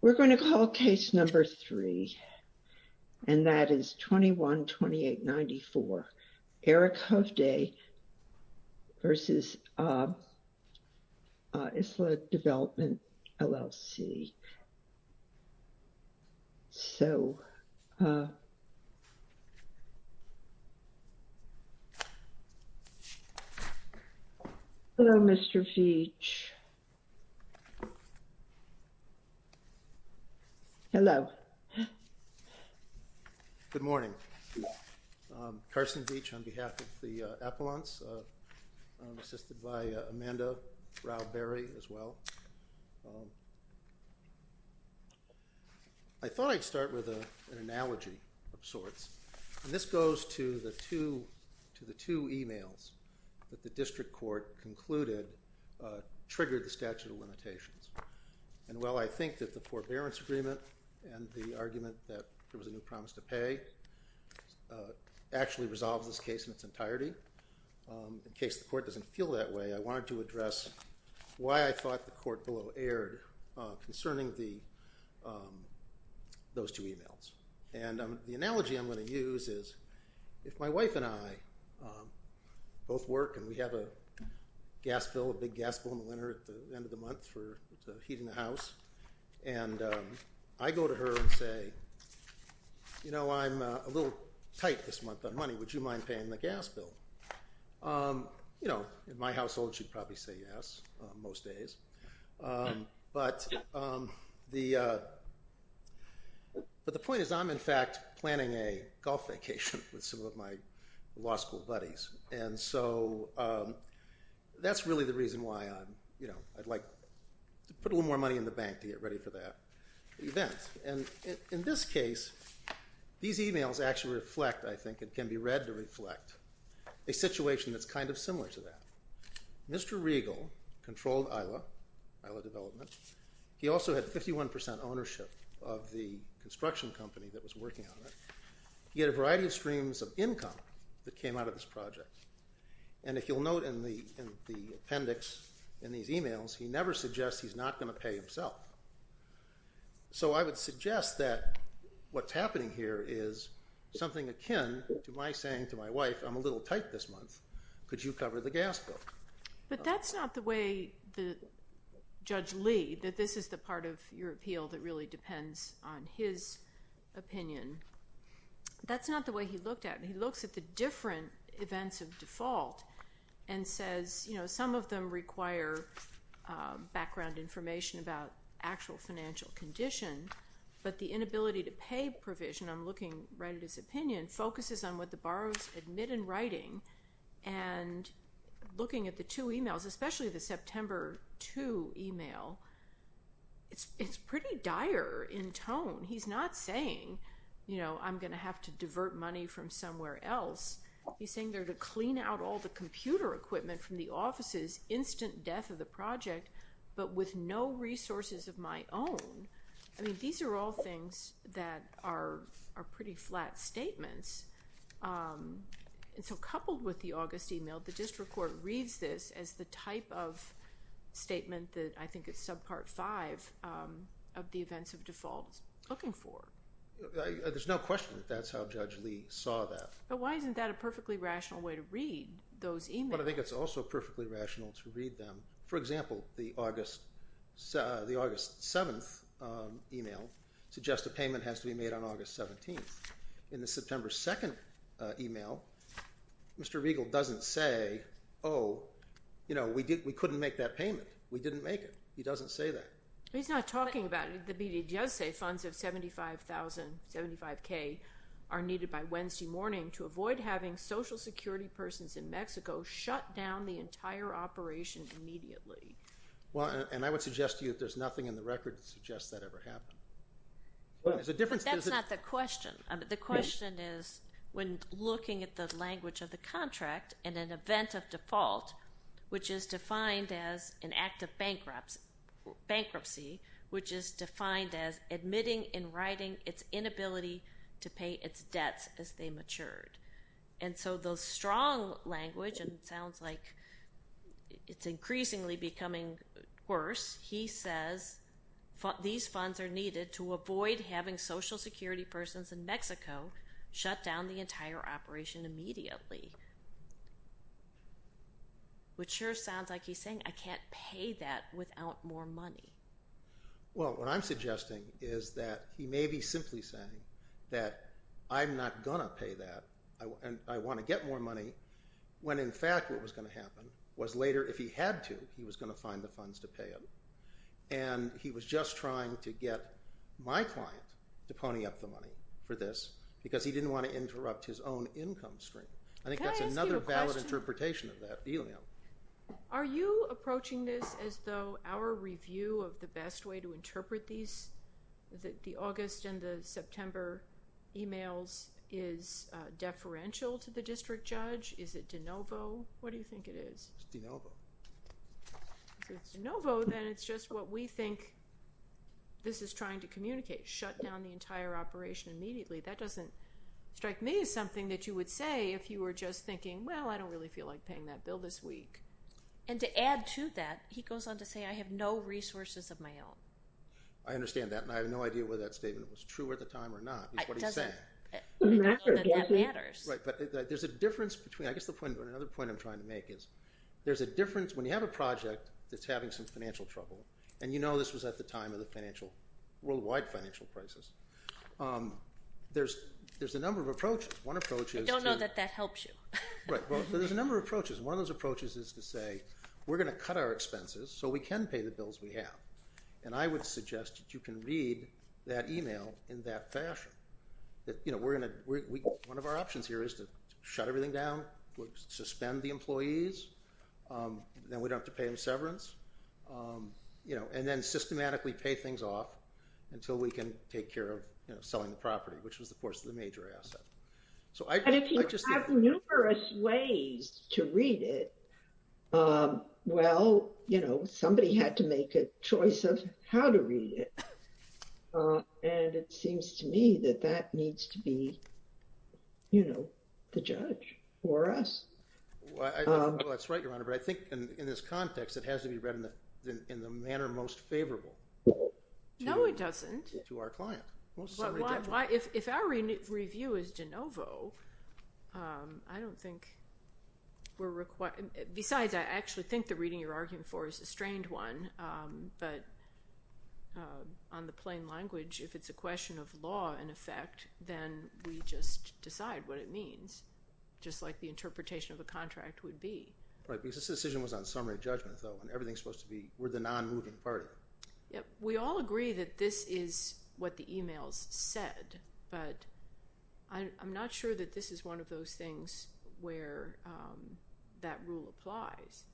We're going to call case number three, and that is 21-2894, Eric Hovde v. ISLA Development LLC. So, hello, Mr. Veitch. Hello. Good morning. Carson Veitch on behalf of the Appalachians, assisted by Amanda Rauh-Berry, as well. I thought I'd start with an analogy of sorts, and this goes to the two emails that the district court concluded triggered the statute of limitations. And while I think that the forbearance agreement and the argument that there was a new promise to pay actually resolved this case in its entirety, in case the court doesn't feel that way, I wanted to address why I thought the court below erred concerning those two emails. And the analogy I'm going to use is, if my wife and I both work, and we have a gas bill, a big gas bill in the winter at the end of the month for heating the house, and I go to her and say, I'm a little tight this month on money. Would you mind paying the gas bill? In my household, she'd probably say yes, most days. But the point is, I'm, in fact, planning a golf vacation with some of my law school buddies. And so that's really the reason why I'd like to put a little more money in the bank to get ready for that event. And in this case, these emails actually reflect, I think, it can be read to reflect, a situation that's kind of similar to that. Mr. Riegel controlled Isla, Isla Development. He also had 51% ownership of the construction company that was working on it. He had a variety of streams of income that came out of this project. And if you'll note in the appendix in these emails, he never suggests he's not going to pay himself. So I would suggest that what's happening here is something akin to my saying to my wife, I'm a little tight this month. Could you cover the gas bill? But that's not the way Judge Lee, that this is the part of your appeal that really depends on his opinion. That's not the way he looked at it. He looks at the different events of default and says, some of them require background information about actual financial condition. But the inability to pay provision, I'm looking right at his opinion, focuses on what the borrowers admit in writing. And looking at the two emails, especially the September 2 email, it's pretty dire in tone. He's not saying, I'm going to have to divert money from somewhere else. He's saying to clean out all the computer equipment from the offices, instant death of the project, but with no resources of my own. I mean, these are all things that are pretty flat statements. And so coupled with the August email, the district court reads this as the type of statement that I think it's subpart five of the events of default looking for. There's no question that that's how Judge Lee saw that. But why isn't that a perfectly rational way to read those emails? But I think it's also perfectly rational to read them. For example, the August 7 email suggests a payment has to be made on August 17. In the September 2 email, Mr. Riegel doesn't say, oh, we couldn't make that payment. We didn't make it. He doesn't say that. He's not talking about it. The media does say funds of 75,000, 75K are needed by Wednesday morning to avoid having social security persons in Mexico shut down the entire operation immediately. And I would suggest to you that there's nothing in the record that suggests that ever happened. That's not the question. The question is when looking at the language of the contract and an event of default, which is defined as an act of bankruptcy, which is defined as admitting in writing its inability to pay its debts as they matured. And so those strong language, and it sounds like it's increasingly becoming worse, he says these funds are needed to avoid having social security persons in Mexico shut down the entire operation immediately. Which sure sounds like he's saying I can't pay that without more money. Well, what I'm suggesting is that he may be simply saying that I'm not going to pay that, and I want to get more money, when in fact what was going to happen was later if he had to, he was going to find the funds to pay it. And he was just trying to get my client to pony up the money for this because he didn't want to interrupt his own income stream. I think that's another valid interpretation of that. Are you approaching this as though our review of the best way to interpret these, the August and the September emails, is deferential to the district judge? Is it de novo? What do you think it is? It's de novo. Then it's just what we think this is trying to communicate, shut down the entire operation immediately. That doesn't really feel like paying that bill this week. And to add to that, he goes on to say I have no resources of my own. I understand that, and I have no idea whether that statement was true at the time or not. There's a difference between, I guess another point I'm trying to make is there's a difference when you have a project that's having some financial trouble, and you know this was at the time of the worldwide financial crisis. There's a number of approaches. I don't know that that helps you. There's a number of approaches. One of those approaches is to say we're going to cut our expenses so we can pay the bills we have, and I would suggest that you can read that email in that fashion. One of our options here is to shut everything down, suspend the employees, then we don't have to pay them severance, and then systematically pay things off until we can take care of selling the property, which was of course the major asset. And if you have numerous ways to read it, well, you know, somebody had to make a choice of how to read it, and it seems to me that that needs to be, you know, the judge for us. That's right, Your Honor, but I think in this context, it has to be read in the manner most favorable to our client. No, it doesn't. If our review is de novo, I don't think we're required, besides I actually think the reading you're arguing for is a strained one, but on the plain language, if it's a question of law in effect, then we just decide what it means, just like the interpretation of a contract would be. Right, because this decision was on summary judgment though, and everything's supposed to be, we're the non-moving party. Yep, we all agree that this is what the emails said, but I'm not sure that this is one of those things where that rule applies.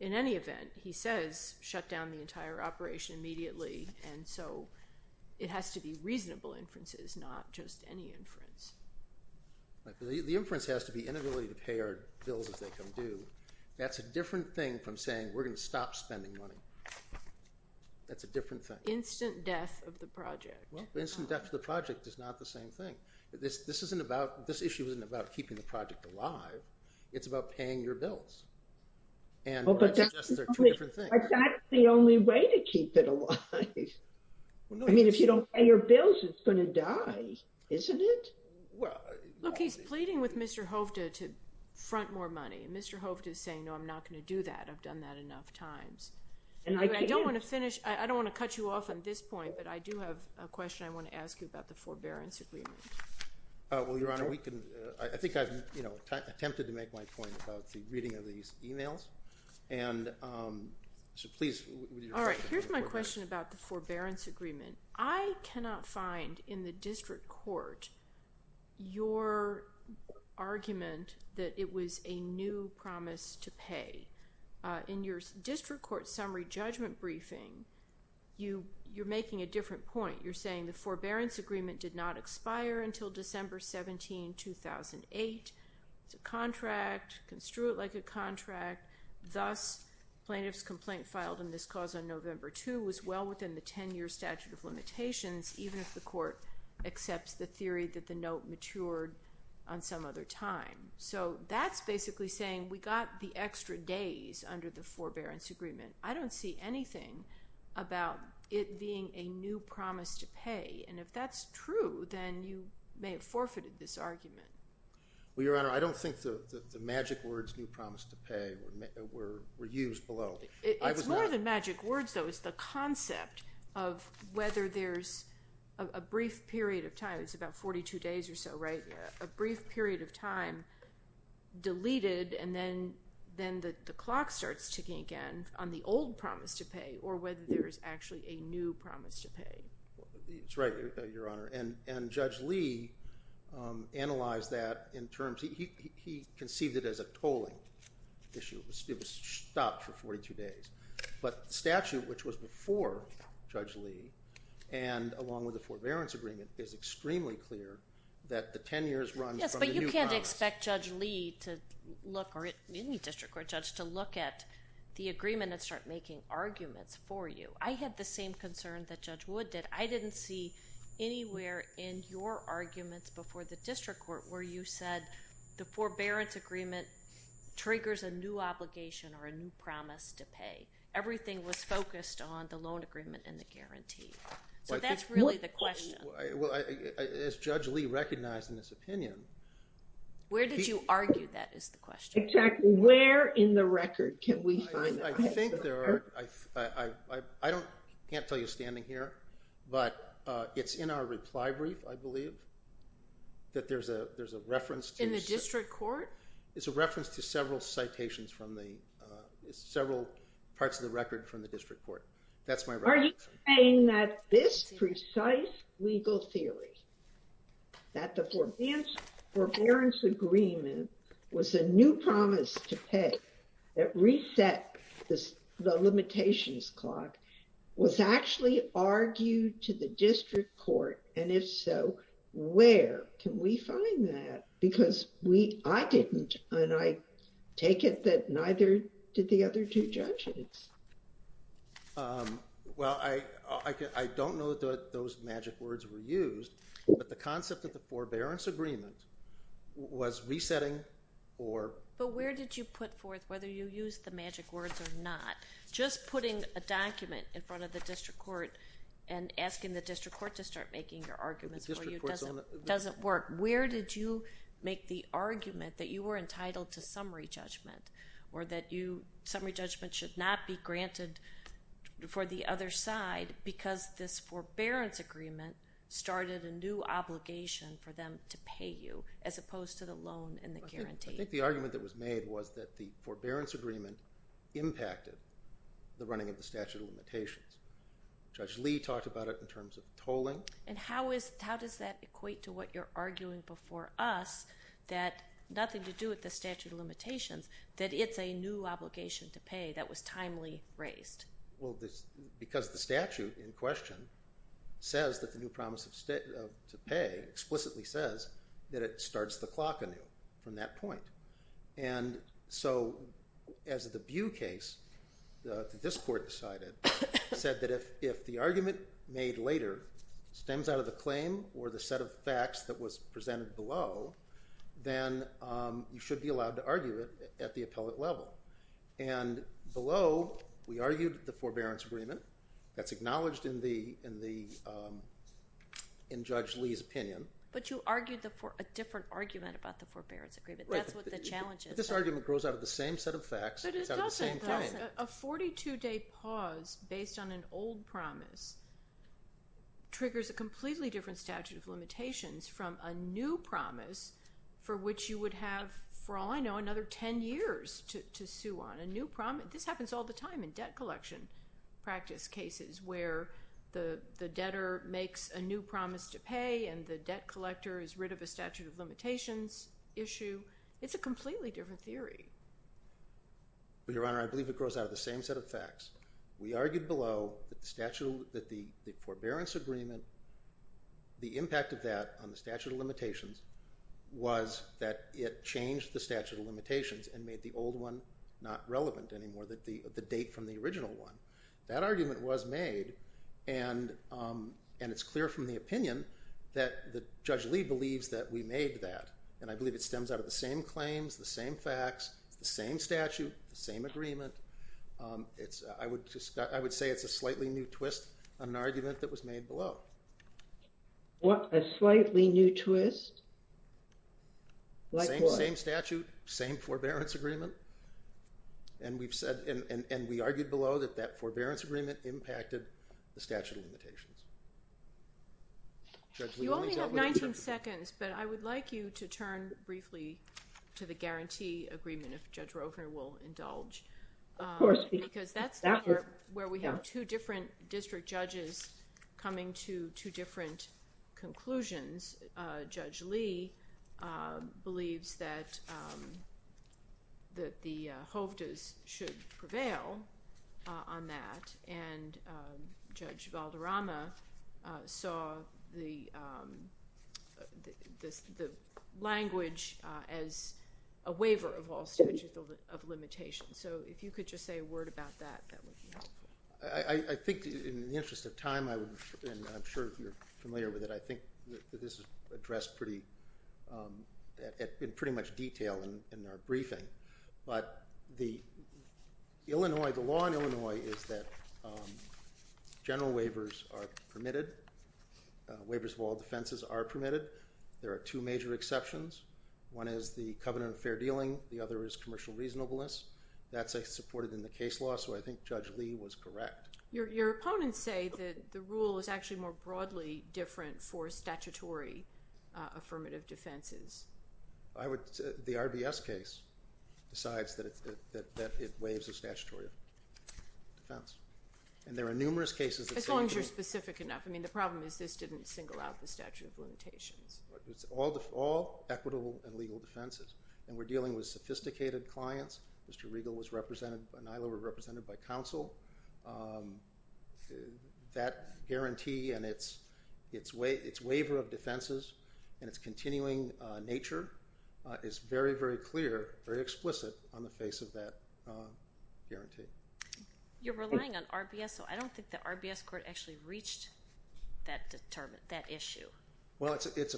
In any event, he says shut down the entire operation immediately, and so it has to be reasonable inferences, not just any inference. Right, the inference has to be inability to pay bills as they come due. That's a different thing from saying we're going to stop spending money. That's a different thing. Instant death of the project. Well, instant death of the project is not the same thing. This issue isn't about keeping the project alive, it's about paying your bills. And that's the only way to keep it alive. I mean, if you don't pay your bills, it's going to die, isn't it? Look, he's pleading with Mr. Hovda to front more money, and Mr. Hovda is saying, no, I'm not going to do that. I've done that enough times. I don't want to finish, I don't want to cut you off on this point, but I do have a question I want to ask you about the forbearance agreement. Well, Your Honor, we can, I think I've, you know, attempted to make my point about the reading of these emails, and so please. All right, here's my question about the forbearance agreement. I cannot find in the district court your argument that it was a new promise to pay. In your district court summary judgment briefing, you're making a different point. You're saying the forbearance agreement did not expire until December 17, 2008. It's a contract, construed like a contract, thus plaintiff's complaint filed in this cause on November 2 was well within the 10-year statute of limitations, even if the court accepts the theory that the note matured on some other time. So that's basically saying we got the extra days under the forbearance agreement. I don't see anything about it being a new promise to pay, and if that's true, then you may have forfeited this argument. Well, Your Honor, I don't think the magic words new promise to pay were used below. It's more than magic words, though. It's the concept of whether there's a brief period of time. It's about 42 days or so, right? A brief period of time deleted, and then the clock starts ticking again on the old promise to pay or whether there is actually a new promise to pay. That's right, Your Honor, and Judge Lee analyzed that. He conceived it as a tolling issue. It was stopped for 42 days, but the statute, which was before Judge Lee and along with the forbearance agreement, is extremely clear that the 10 years runs from the new promise. Yes, but you can't expect Judge Lee to look, or any district court judge, to look at the agreement and start making arguments for you. I had the same concern that Judge Wood did. I didn't see anywhere in your arguments before the district court where you said the forbearance agreement triggers a new obligation or a new promise to pay. Everything was focused on the loan agreement and the guarantee, so that's really the question. Well, as Judge Lee recognized in his opinion... Where did you argue that is the question? Exactly. Where in the record can we find that? I think there are... I can't tell you standing here, but it's in our reply brief, I believe, that there's a reference to... In the district court? It's a reference to several citations from the... several parts of the record from the district court. That's my... Are you saying that this precise legal theory, that the forbearance agreement was a new promise to pay that reset the limitations clock, was actually argued to the district court and if so, where can we find that? Because we, I didn't and I take it that neither did the other two judges. Well, I don't know that those magic words were used, but the concept of the forbearance agreement was resetting or... But where did you put forth whether you used the magic words or not? Just putting a document in front of the district court and asking the district court to start making your arguments for you doesn't work. Where did you make the argument that you were entitled to summary judgment or that summary judgment should not be granted for the other side because this forbearance agreement started a new obligation for them to pay you as opposed to the loan and the guarantee? I think the argument that was made was that the forbearance agreement impacted the running of the statute of limitations. Judge Lee talked about it in terms of tolling. And how is... How does that equate to what you're arguing before us that nothing to do with the statute of limitations, that it's a new obligation to pay that was timely raised? Well, because the statute in question says that the new promise to pay explicitly says that it starts the clock anew from that point. And so as the Bew case, the district court decided, said that if the argument made later stems out of the claim or the set of facts that was presented below, then you should be allowed to argue it at the appellate level. And below, we argued the forbearance agreement. That's acknowledged in the... in Judge Lee's opinion. But you argued a different argument about the forbearance agreement. That's what the challenge is. This argument grows out of the same set of facts. But it doesn't. A 42-day pause based on an old promise triggers a completely different statute of limitations from a new promise for which you would have, for all I know, another 10 years to sue on. A new promise... This happens all the time in debt collection practice cases where the debtor makes a new promise to pay and the debt collector is rid of a statute of limitations issue. It's a completely different theory. But, Your Honor, I believe it grows out of the same set of facts. We argued below that the forbearance agreement... the impact of that on the statute of limitations was that it changed the statute of limitations and made the old one not relevant anymore, the date from the original one. That argument was made, and it's clear from the opinion that Judge Lee believes that we made that. And I believe it stems out of the same argument. I would say it's a slightly new twist on an argument that was made below. What? A slightly new twist? Same statute, same forbearance agreement. And we argued below that that forbearance agreement impacted the statute of limitations. You only have 19 seconds, but I would like you to turn briefly to the guarantee agreement, if Judge Roper will indulge. Of course. Because that's where we have two different district judges coming to two different conclusions. Judge Lee believes that the hovdas should prevail on that, and Judge Valderrama saw the limitations. So if you could just say a word about that, that would be helpful. I think in the interest of time, and I'm sure you're familiar with it, I think that this is addressed in pretty much detail in our briefing. But the law in Illinois is that general waivers are permitted. Waivers of all defenses are permitted. There are two major exceptions. One is the covenant of fair dealing, the other is commercial reasonableness. That's supported in the case law, so I think Judge Lee was correct. Your opponents say that the rule is actually more broadly different for statutory affirmative defenses. The RBS case decides that it waives a statutory defense. And there are numerous cases that say— As long as you're specific enough. I mean, the problem is this didn't single out the statute of limitations. It's all equitable and legal defenses. And we're dealing with sophisticated clients. Mr. Riegel was represented by NILO, we're represented by counsel. That guarantee and its waiver of defenses and its continuing nature is very, very clear, very explicit on the face of that guarantee. You're relying on RBS, so I don't think the RBS court actually reached that issue. Well, it's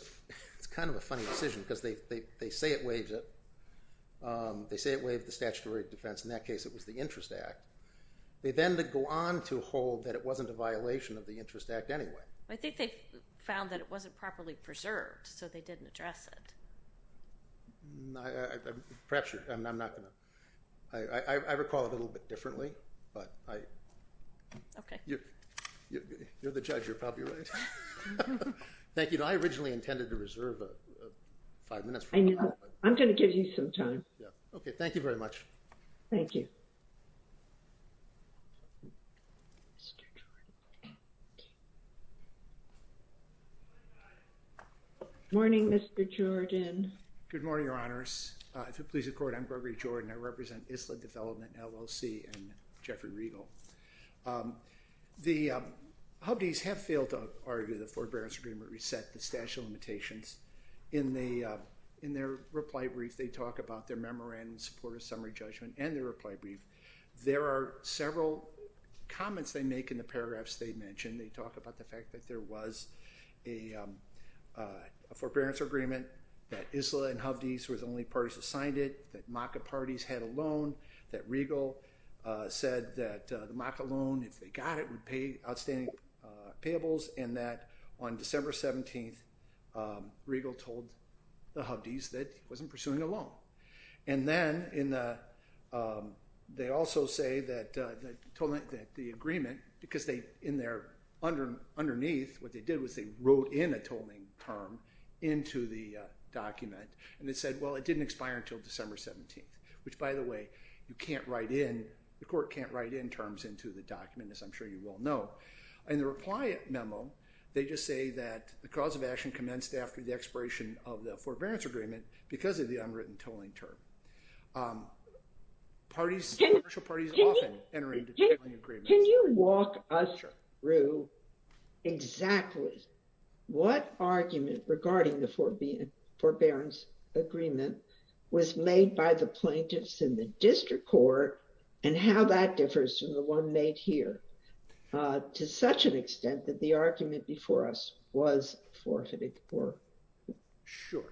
kind of a funny decision because they say it waives it. They say it waived the statutory defense. In that case, it was the Interest Act. They then go on to hold that it wasn't a violation of the Interest Act anyway. I think they found that it wasn't properly preserved, so they didn't address it. Perhaps you're—I'm not going to—I recall it a little bit differently, but I— Okay. You're the judge, you're probably right. Thank you. I originally intended to reserve five minutes. I know. I'm going to give you some time. Yeah. Okay. Thank you very much. Thank you. Morning, Mr. Jordan. Good morning, Your Honors. If it pleases the Court, I'm Gregory Jordan. I represent ISLA Development, LLC, and Jeffrey Riegel. The Hubdees have failed to argue that the Forbearance Agreement reset the statute of limitations. In their reply brief, they talk about their memorandum in support of summary judgment and their reply brief. There are several comments they make in the paragraphs they mentioned. They talk about the fact that there was a Forbearance Agreement, that ISLA and Hubdees were the only parties that signed it, that MACA parties had a loan, that Riegel said that the MACA loan, if they got it, would pay outstanding payables, and that on December 17th, Riegel told the Hubdees that he wasn't pursuing a loan. And then they also say that the agreement—because in there, underneath, what they did was they wrote in a tolling term into the document, and it said, well, it didn't expire until December 17th, which, by the way, you can't write in—the court can't write in terms into the document, as I'm sure you all know. In the reply memo, they just say that the cause of action commenced after the expiration of the Forbearance Agreement because of the unwritten tolling term. Parties—commercial parties often enter into tolling agreements. Can you walk us through exactly what argument regarding the Forbearance Agreement was made by the plaintiffs in the district court, and how that differs from the one made here, to such an extent that the argument before us was forfeited? Sure.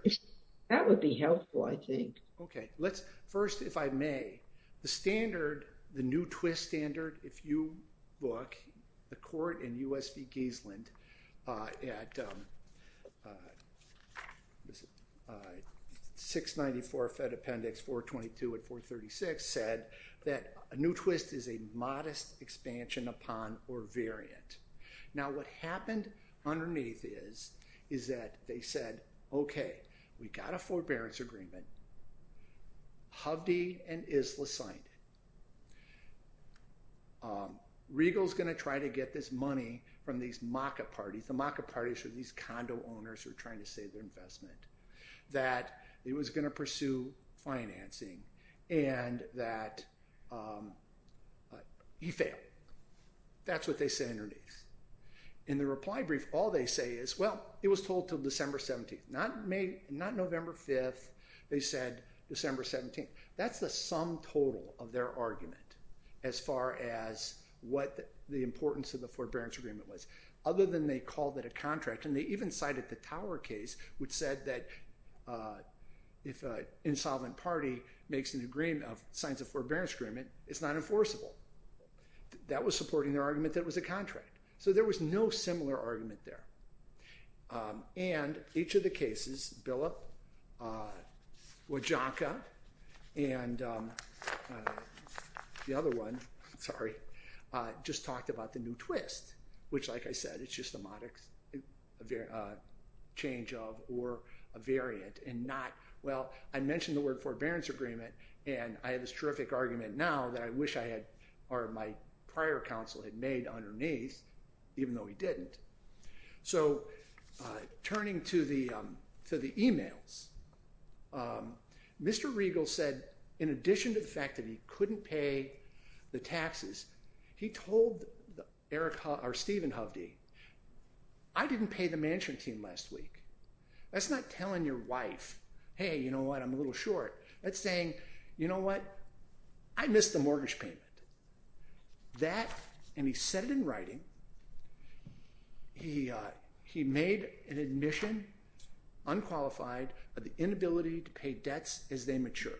That would be helpful, I think. Okay. Let's—first, if I may, the standard, the new twist standard, if you look, the court in 422 and 436 said that a new twist is a modest expansion upon or variant. Now, what happened underneath is that they said, okay, we've got a Forbearance Agreement. Hovde and Isla signed it. Regal's going to try to get this money from these Maka parties. The Maka parties are these condo owners who are trying to save their investment, that he was going to pursue financing, and that he failed. That's what they said underneath. In the reply brief, all they say is, well, it was told until December 17th, not November 5th. They said December 17th. That's the sum total of their argument as far as what the importance of the Forbearance Agreement was, other than they called it a contract, and they even cited the Tower case, which said that if an insolvent party makes an agreement of signs of Forbearance Agreement, it's not enforceable. That was supporting their argument that it was a contract. So there was no similar argument there. And each of the cases, Billup, Wajonka, and the other one, sorry, just talked about the twist, which, like I said, it's just a modicum change of or a variant and not, well, I mentioned the word Forbearance Agreement, and I have this terrific argument now that I wish I had, or my prior counsel had made underneath, even though he didn't. So turning to the emails, Mr. Regal said, in addition to the fact that he couldn't pay the taxes, he told Stephen Hovde, I didn't pay the management team last week. That's not telling your wife, hey, you know what, I'm a little short. That's saying, you know what, I missed the mortgage payment. That, and he said it in writing, he made an admission, unqualified, of the inability to pay debts as they matured.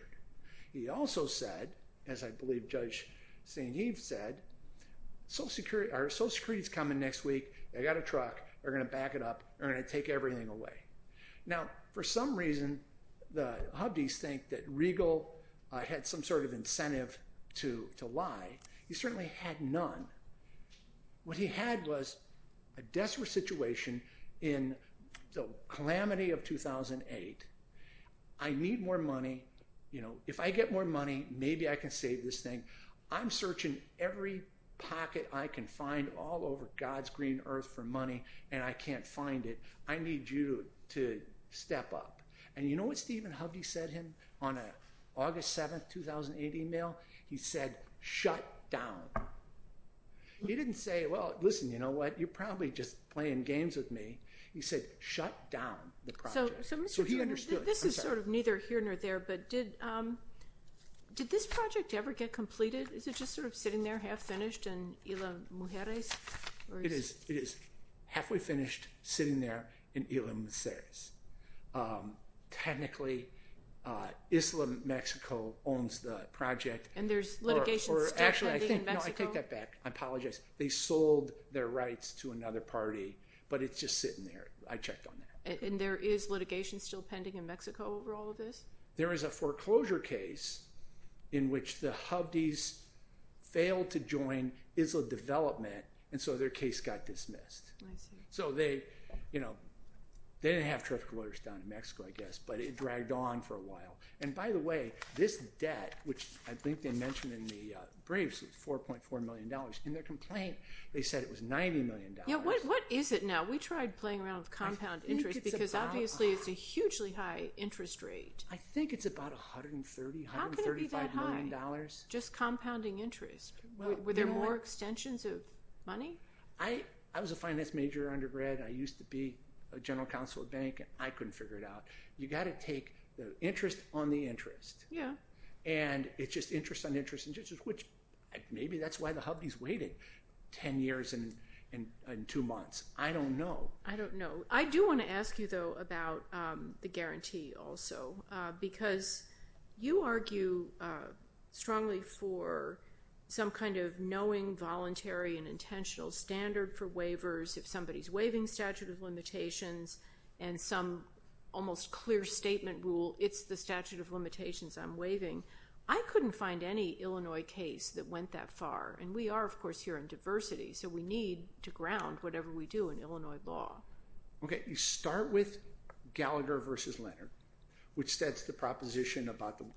He also said, as I believe Judge St. Heves said, our Social Security is coming next week, I got a truck, they're going to back it up, they're going to take everything away. Now, for some reason, the Hovdes think that Regal had some sort of incentive to lie. He certainly had none. What he had was a desperate situation in the calamity of 2008. I need more money. If I get more money, maybe I can save this thing. I'm searching every pocket I can find all over God's green earth for money, and I can't find it. I need you to step up. And you know what Stephen Hovde said to him on an August 7, 2008 email? He said, shut down. He didn't say, well, listen, you know what, you're probably just playing games with me. He said, shut down the project. This is sort of neither here nor there, but did this project ever get completed? Is it just sort of sitting there half finished in Isla Mujeres? It is halfway finished, sitting there in Isla Mujeres. Technically, Islam Mexico owns the project. And there's litigations in Mexico? Actually, I take that back. I apologize. They sold their rights to another party, but it's just sitting there. I checked on that. And there is litigation still pending in Mexico over all of this? There is a foreclosure case in which the Hovdes failed to join Isla development, and so their case got dismissed. So they didn't have terrific lawyers down in Mexico, I guess, but it dragged on for a while. And by the way, this debt, which I think they mentioned in the briefs was $4.4 million. In their complaint, they said it was $90 million. Yeah, what is it now? We tried playing around with compound interest, because obviously it's a hugely high interest rate. I think it's about $130, $135 million. Just compounding interest. Were there more extensions of money? I was a finance major undergrad. I used to be a general counsel at a bank, and I couldn't figure it out. You've got to take the interest on the interest. Yeah. And it's just interest on interest, which maybe that's why the Hovdes waited 10 years and two months. I don't know. I don't know. I do want to ask you, though, about the guarantee also, because you argue strongly for some kind of knowing, voluntary, and intentional standard for waivers. If somebody's waiving statute of limitations and some almost clear statement rule, it's the statute of limitations I'm waiving. I couldn't find any Illinois case that went that far. And we are, of course, here in diversity, so we need to ground whatever we do in Illinois law. OK. You start with Gallagher versus Leonard, which sets the proposition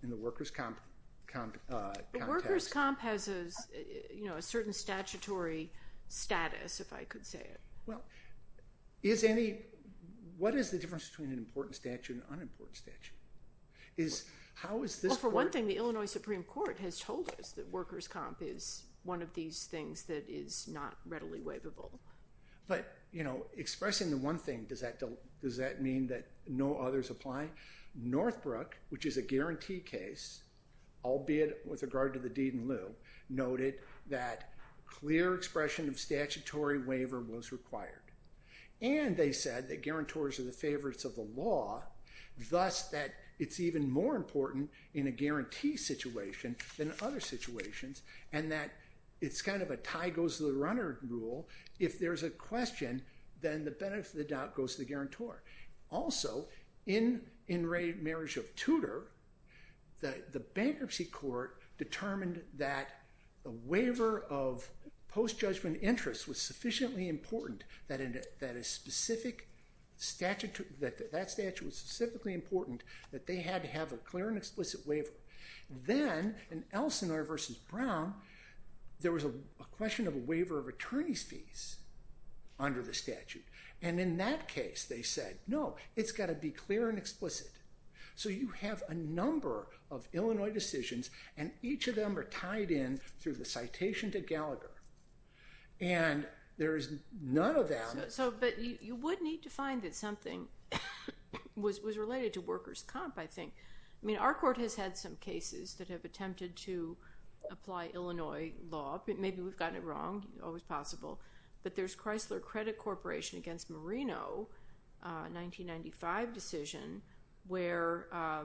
in the workers' comp context. The workers' comp has a certain statutory status, if I could say it. Well, what is the difference between an important statute and an unimportant statute? How is this part— one of these things that is not readily waivable? But expressing the one thing, does that mean that no others apply? Northbrook, which is a guarantee case, albeit with regard to the deed in lieu, noted that clear expression of statutory waiver was required. And they said that guarantors are the favorites of the law, thus that it's even more important in a guarantee situation than other situations, and that it's kind of a tie-goes-to-the-runner rule. If there's a question, then the benefit of the doubt goes to the guarantor. Also, in Ray Marish of Tudor, the bankruptcy court determined that a waiver of post-judgment interest was sufficiently important that a specific statute—that that statute was specifically important that they had to have a clear and explicit waiver. Then, in Elsinore v. Brown, there was a question of a waiver of attorney's fees under the statute. And in that case, they said, no, it's got to be clear and explicit. So you have a number of Illinois decisions, and each of them are tied in through the citation to Gallagher. And there is none of them— but you would need to find that something was related to workers' comp, I think. I mean, our court has had some cases that have attempted to apply Illinois law. Maybe we've gotten it wrong. Always possible. But there's Chrysler Credit Corporation against Marino, 1995 decision, where a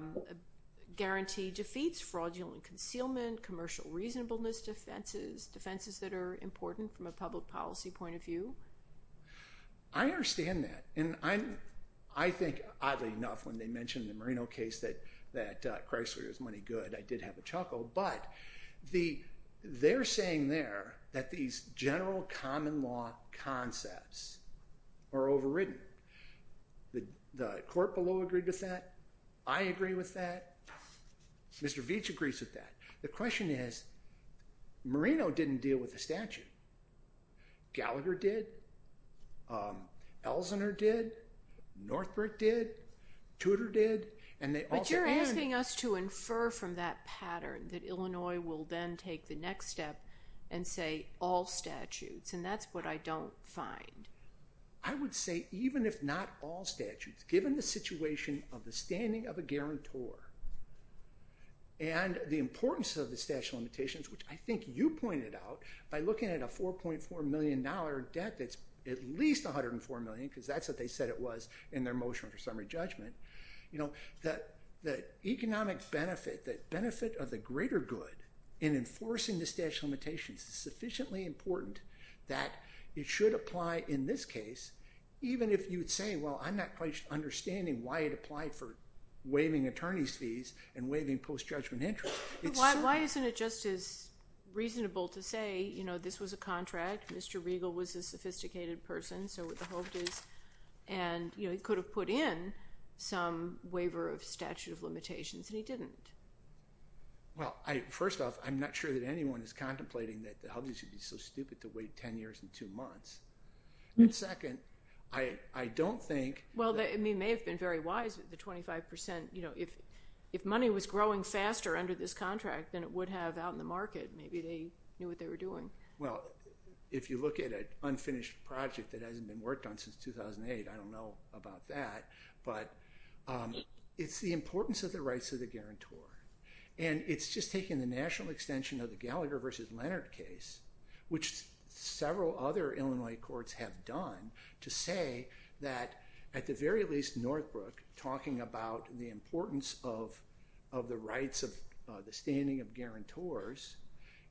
guarantee defeats fraudulent concealment, commercial reasonableness defenses, defenses that are important from a public policy point of view. I understand that. And I think, oddly enough, when they mentioned the Marino case that Chrysler is money good, I did have a chuckle. But they're saying there that these general common law concepts are overridden. The court below agreed with that. I agree with that. Mr. Veach agrees with that. The question is, Marino didn't deal with the statute. Gallagher did. Elsinore did. Northbrook did. Tudor did. And they also— But you're asking us to infer from that pattern that Illinois will then take the next step and say, all statutes. And that's what I don't find. I would say even if not all statutes, given the situation of the standing of a guarantor and the importance of the statute of limitations, which I think you pointed out by looking at a $4.4 million debt that's at least $104 million, because that's what they said it was in their motion for summary judgment, the economic benefit, the benefit of the greater good in enforcing the statute of limitations is sufficiently important that it should apply in this case, even if you would say, well, I'm not quite understanding why it applied for waiving attorney's fees and waiving post-judgment interest. Why isn't it just as reasonable to say, you know, this was a contract. Mr. Riegel was a sophisticated person, so the hope is—and, you know, he could have put in some waiver of statute of limitations, and he didn't. Well, first off, I'm not sure that anyone is contemplating that the HUD should be so stupid to wait 10 years and two months. And second, I don't think— It may have been very wise, but the 25 percent, you know, if money was growing faster under this contract than it would have out in the market, maybe they knew what they were doing. Well, if you look at an unfinished project that hasn't been worked on since 2008, I don't know about that, but it's the importance of the rights of the guarantor, and it's just taking the national extension of the Gallagher v. Leonard case, which several other Illinois courts have done, to say that at the very least Northbrook, talking about the importance of the rights of the standing of guarantors,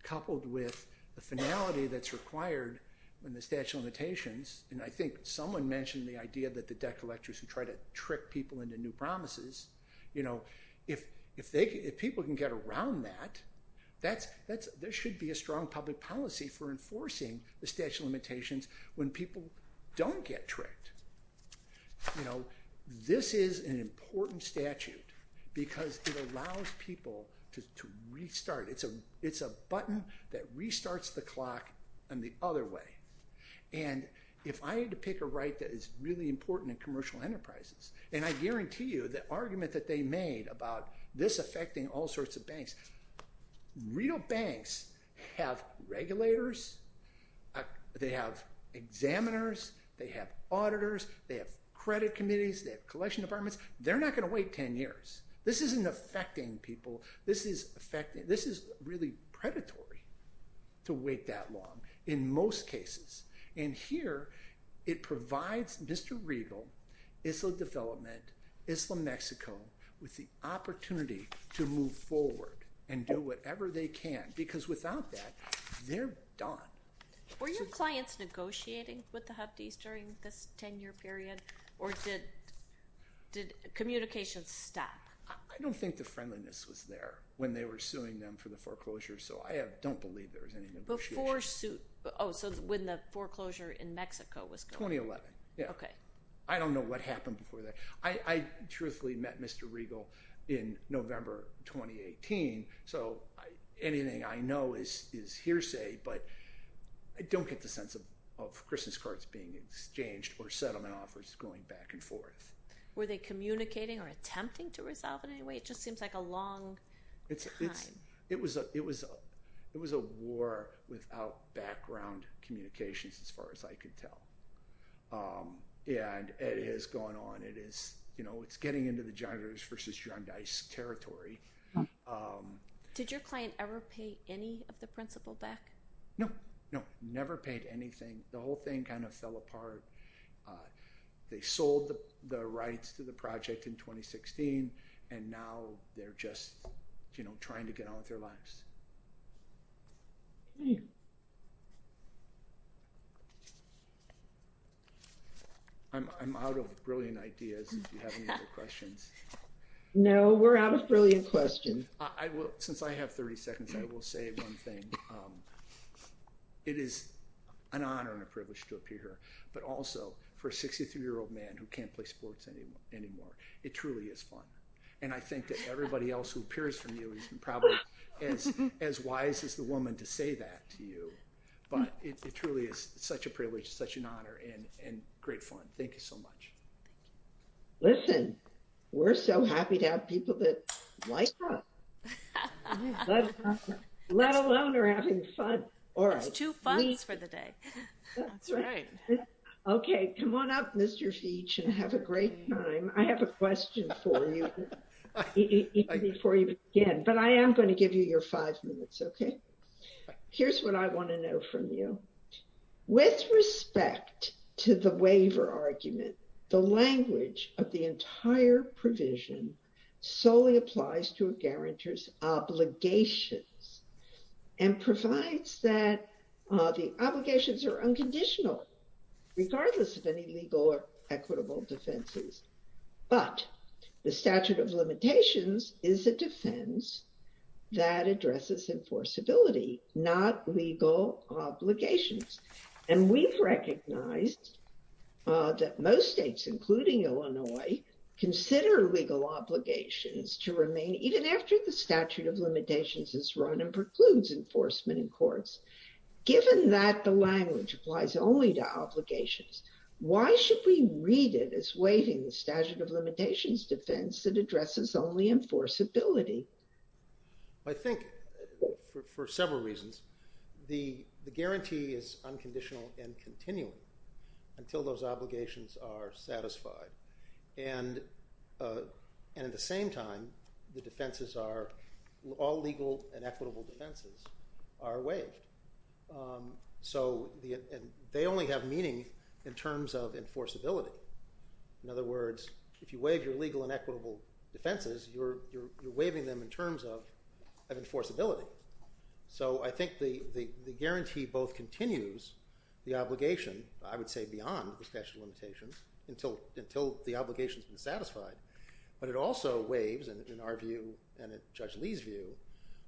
coupled with the finality that's required in the statute of limitations, and I think someone mentioned the idea that the debt collectors who try to trick people into new promises, you know, if people can get around that, there should be a strong public policy for enforcing the statute of limitations when people don't get tricked. You know, this is an important statute because it allows people to restart. It's a button that restarts the clock in the other way. And if I had to pick a right that is really important in commercial enterprises, and I guarantee you the argument that they made about this affecting all sorts of banks, real banks have regulators, they have examiners, they have auditors, they have credit committees, they have collection departments, they're not going to wait ten years. This isn't affecting people, this is really predatory to wait that long in most cases. And here it provides Mr. Riegel, Isla Development, Isla Mexico, with the opportunity to move forward, because without that, they're done. Were your clients negotiating with the Hubtys during this ten-year period, or did communication stop? I don't think the friendliness was there when they were suing them for the foreclosure, so I don't believe there was any negotiation. Before, oh, so when the foreclosure in Mexico was going on. 2011. Okay. I don't know what happened before that. I truthfully met Mr. Riegel in November 2018, so anything I know is hearsay, but I don't get the sense of Christmas cards being exchanged or settlement offers going back and forth. Were they communicating or attempting to resolve it in any way? It just seems like a long time. It was a war without background communications, as far as I could tell. Yeah, and it has gone on. It is, you know, it's getting into the John Riegel versus John Dice territory. Did your client ever pay any of the principal back? No, no. Never paid anything. The whole thing kind of fell apart. They sold the rights to the project in 2016, and now they're just, you know, trying to get on with their lives. Okay. I'm out of brilliant ideas, if you have any other questions. No, we're out of brilliant questions. I will, since I have 30 seconds, I will say one thing. It is an honor and a privilege to appear here, but also for a 63-year-old man who can't play sports anymore, it truly is fun. And I think that everybody else who appears from you is probably as wise as the woman to say that to you. But it truly is such a privilege, such an honor, and great fun. Thank you so much. Listen, we're so happy to have people that like us, let alone are having fun. All right. Two funs for the day. That's right. Okay, come on up, Mr. Feech, and have a great time. I have a question for you even before you begin, but I am going to give you your five minutes, okay? Here's what I want to know from you. With respect to the waiver argument, the language of the entire provision solely applies to a guarantor's obligations and provides that the obligations are unconditional, regardless of any legal or equitable defenses. But the statute of limitations is a defense that addresses enforceability, not legal obligations. And we've recognized that most states, including Illinois, consider legal obligations to remain even after the statute of limitations is run and precludes enforcement in courts, given that the language applies only to obligations. Why should we read it as waiving the statute of limitations defense that addresses only enforceability? I think, for several reasons, the guarantee is unconditional and continuing until those obligations are satisfied. And at the same time, all legal and equitable defenses are waived. So they only have meaning in terms of enforceability. In other words, if you waive your legal and equitable defenses, you're waiving them in terms of enforceability. So I think the guarantee both continues the obligation, I would say beyond the statute of limitations, until the obligation has been satisfied. But it also waives, in our view and in Judge Lee's view,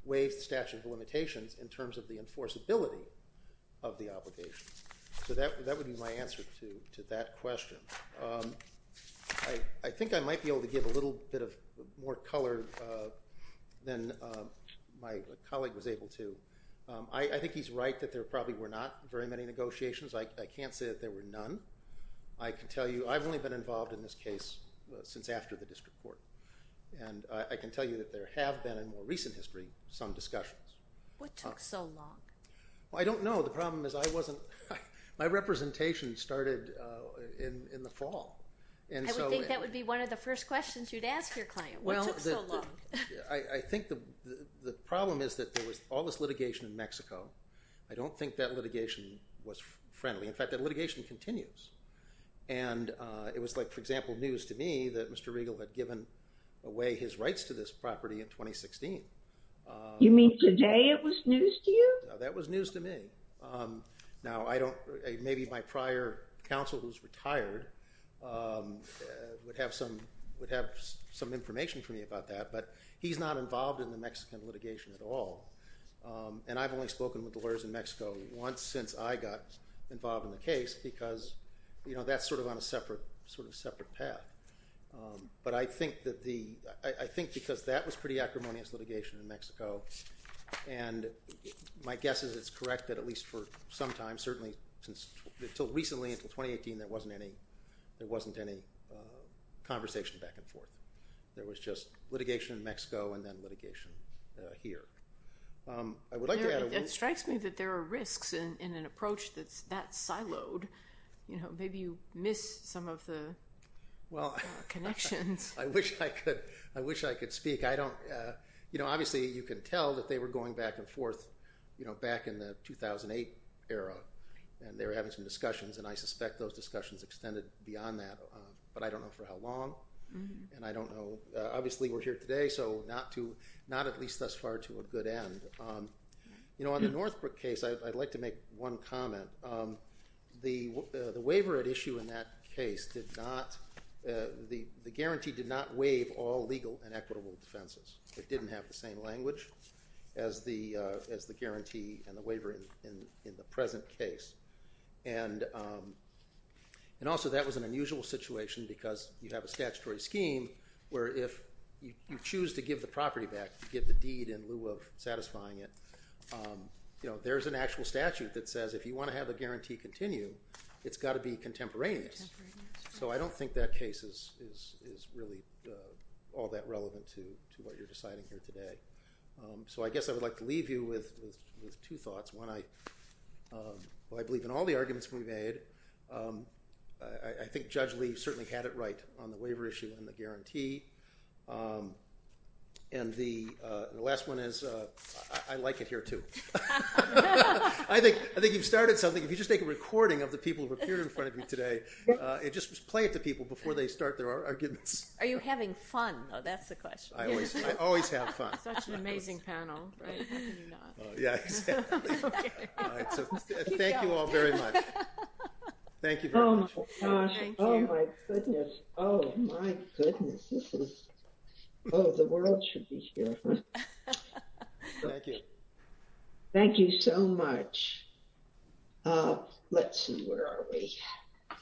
waives the statute of limitations in terms of the enforceability of the obligation. So that would be my answer to that question. I think I might be able to give a little bit of more color than my colleague was able to. I think he's right that there probably were not very many negotiations. I can't say that there were none. I can tell you I've only been involved in this case since after the district court. And I can tell you that there have been, in more recent history, some discussions. What took so long? Well, I don't know. The problem is my representation started in the fall. I would think that would be one of the first questions you'd ask your client. What took so long? I think the problem is that there was all this litigation in Mexico. I don't think that litigation was friendly. In fact, that litigation continues. And it was like, for example, news to me that Mr. Regal had given away his rights to this property in 2016. You mean today it was news to you? That was news to me. Now, maybe my prior counsel, who's retired, would have some information for me about that. But he's not involved in the Mexican litigation at all. And I've only spoken with the lawyers in Mexico once since I got involved in the case, because that's sort of on a separate path. But I think because that was pretty acrimonious litigation in Mexico. And my guess is it's correct that at least for some time, certainly until recently, until 2018, there wasn't any conversation back and forth. There was just litigation in Mexico and then litigation here. I would like to add a little— It strikes me that there are risks in an approach that's that siloed. Maybe you missed some of the— Well— Connections. I wish I could speak. Obviously, you can tell that they were going back and forth back in the 2008 era, and they were having some discussions. And I suspect those discussions extended beyond that. But I don't know for how long. And I don't know. Obviously, we're here today, so not at least thus far to a good end. On the Northbrook case, I'd like to make one comment. The waiver at issue in that case did not—the guarantee did not waive all legal and equitable defenses. It didn't have the same language as the guarantee and the waiver in the present case. And also, that was an unusual situation because you have a statutory scheme where if you choose to give the property back, to give the deed in lieu of satisfying it, there's an actual statute that says if you want to have a guarantee continue, it's got to be contemporaneous. So I don't think that case is really all that relevant to what you're deciding here today. So I guess I would like to leave you with two thoughts. One, I believe in all the arguments we made. I think Judge Lee certainly had it right on the waiver issue and the guarantee. And the last one is, I like it here, too. I think you've started something. If you just make a recording of the people who have appeared in front of you today, and just play it to people before they start their arguments. Are you having fun? Oh, that's the question. I always have fun. Such an amazing panel. Yeah, exactly. All right. So thank you all very much. Thank you very much. Oh, my goodness. Oh, my goodness. This is—oh, the world should be here. Thank you. Thank you so much. Let's see, where are we?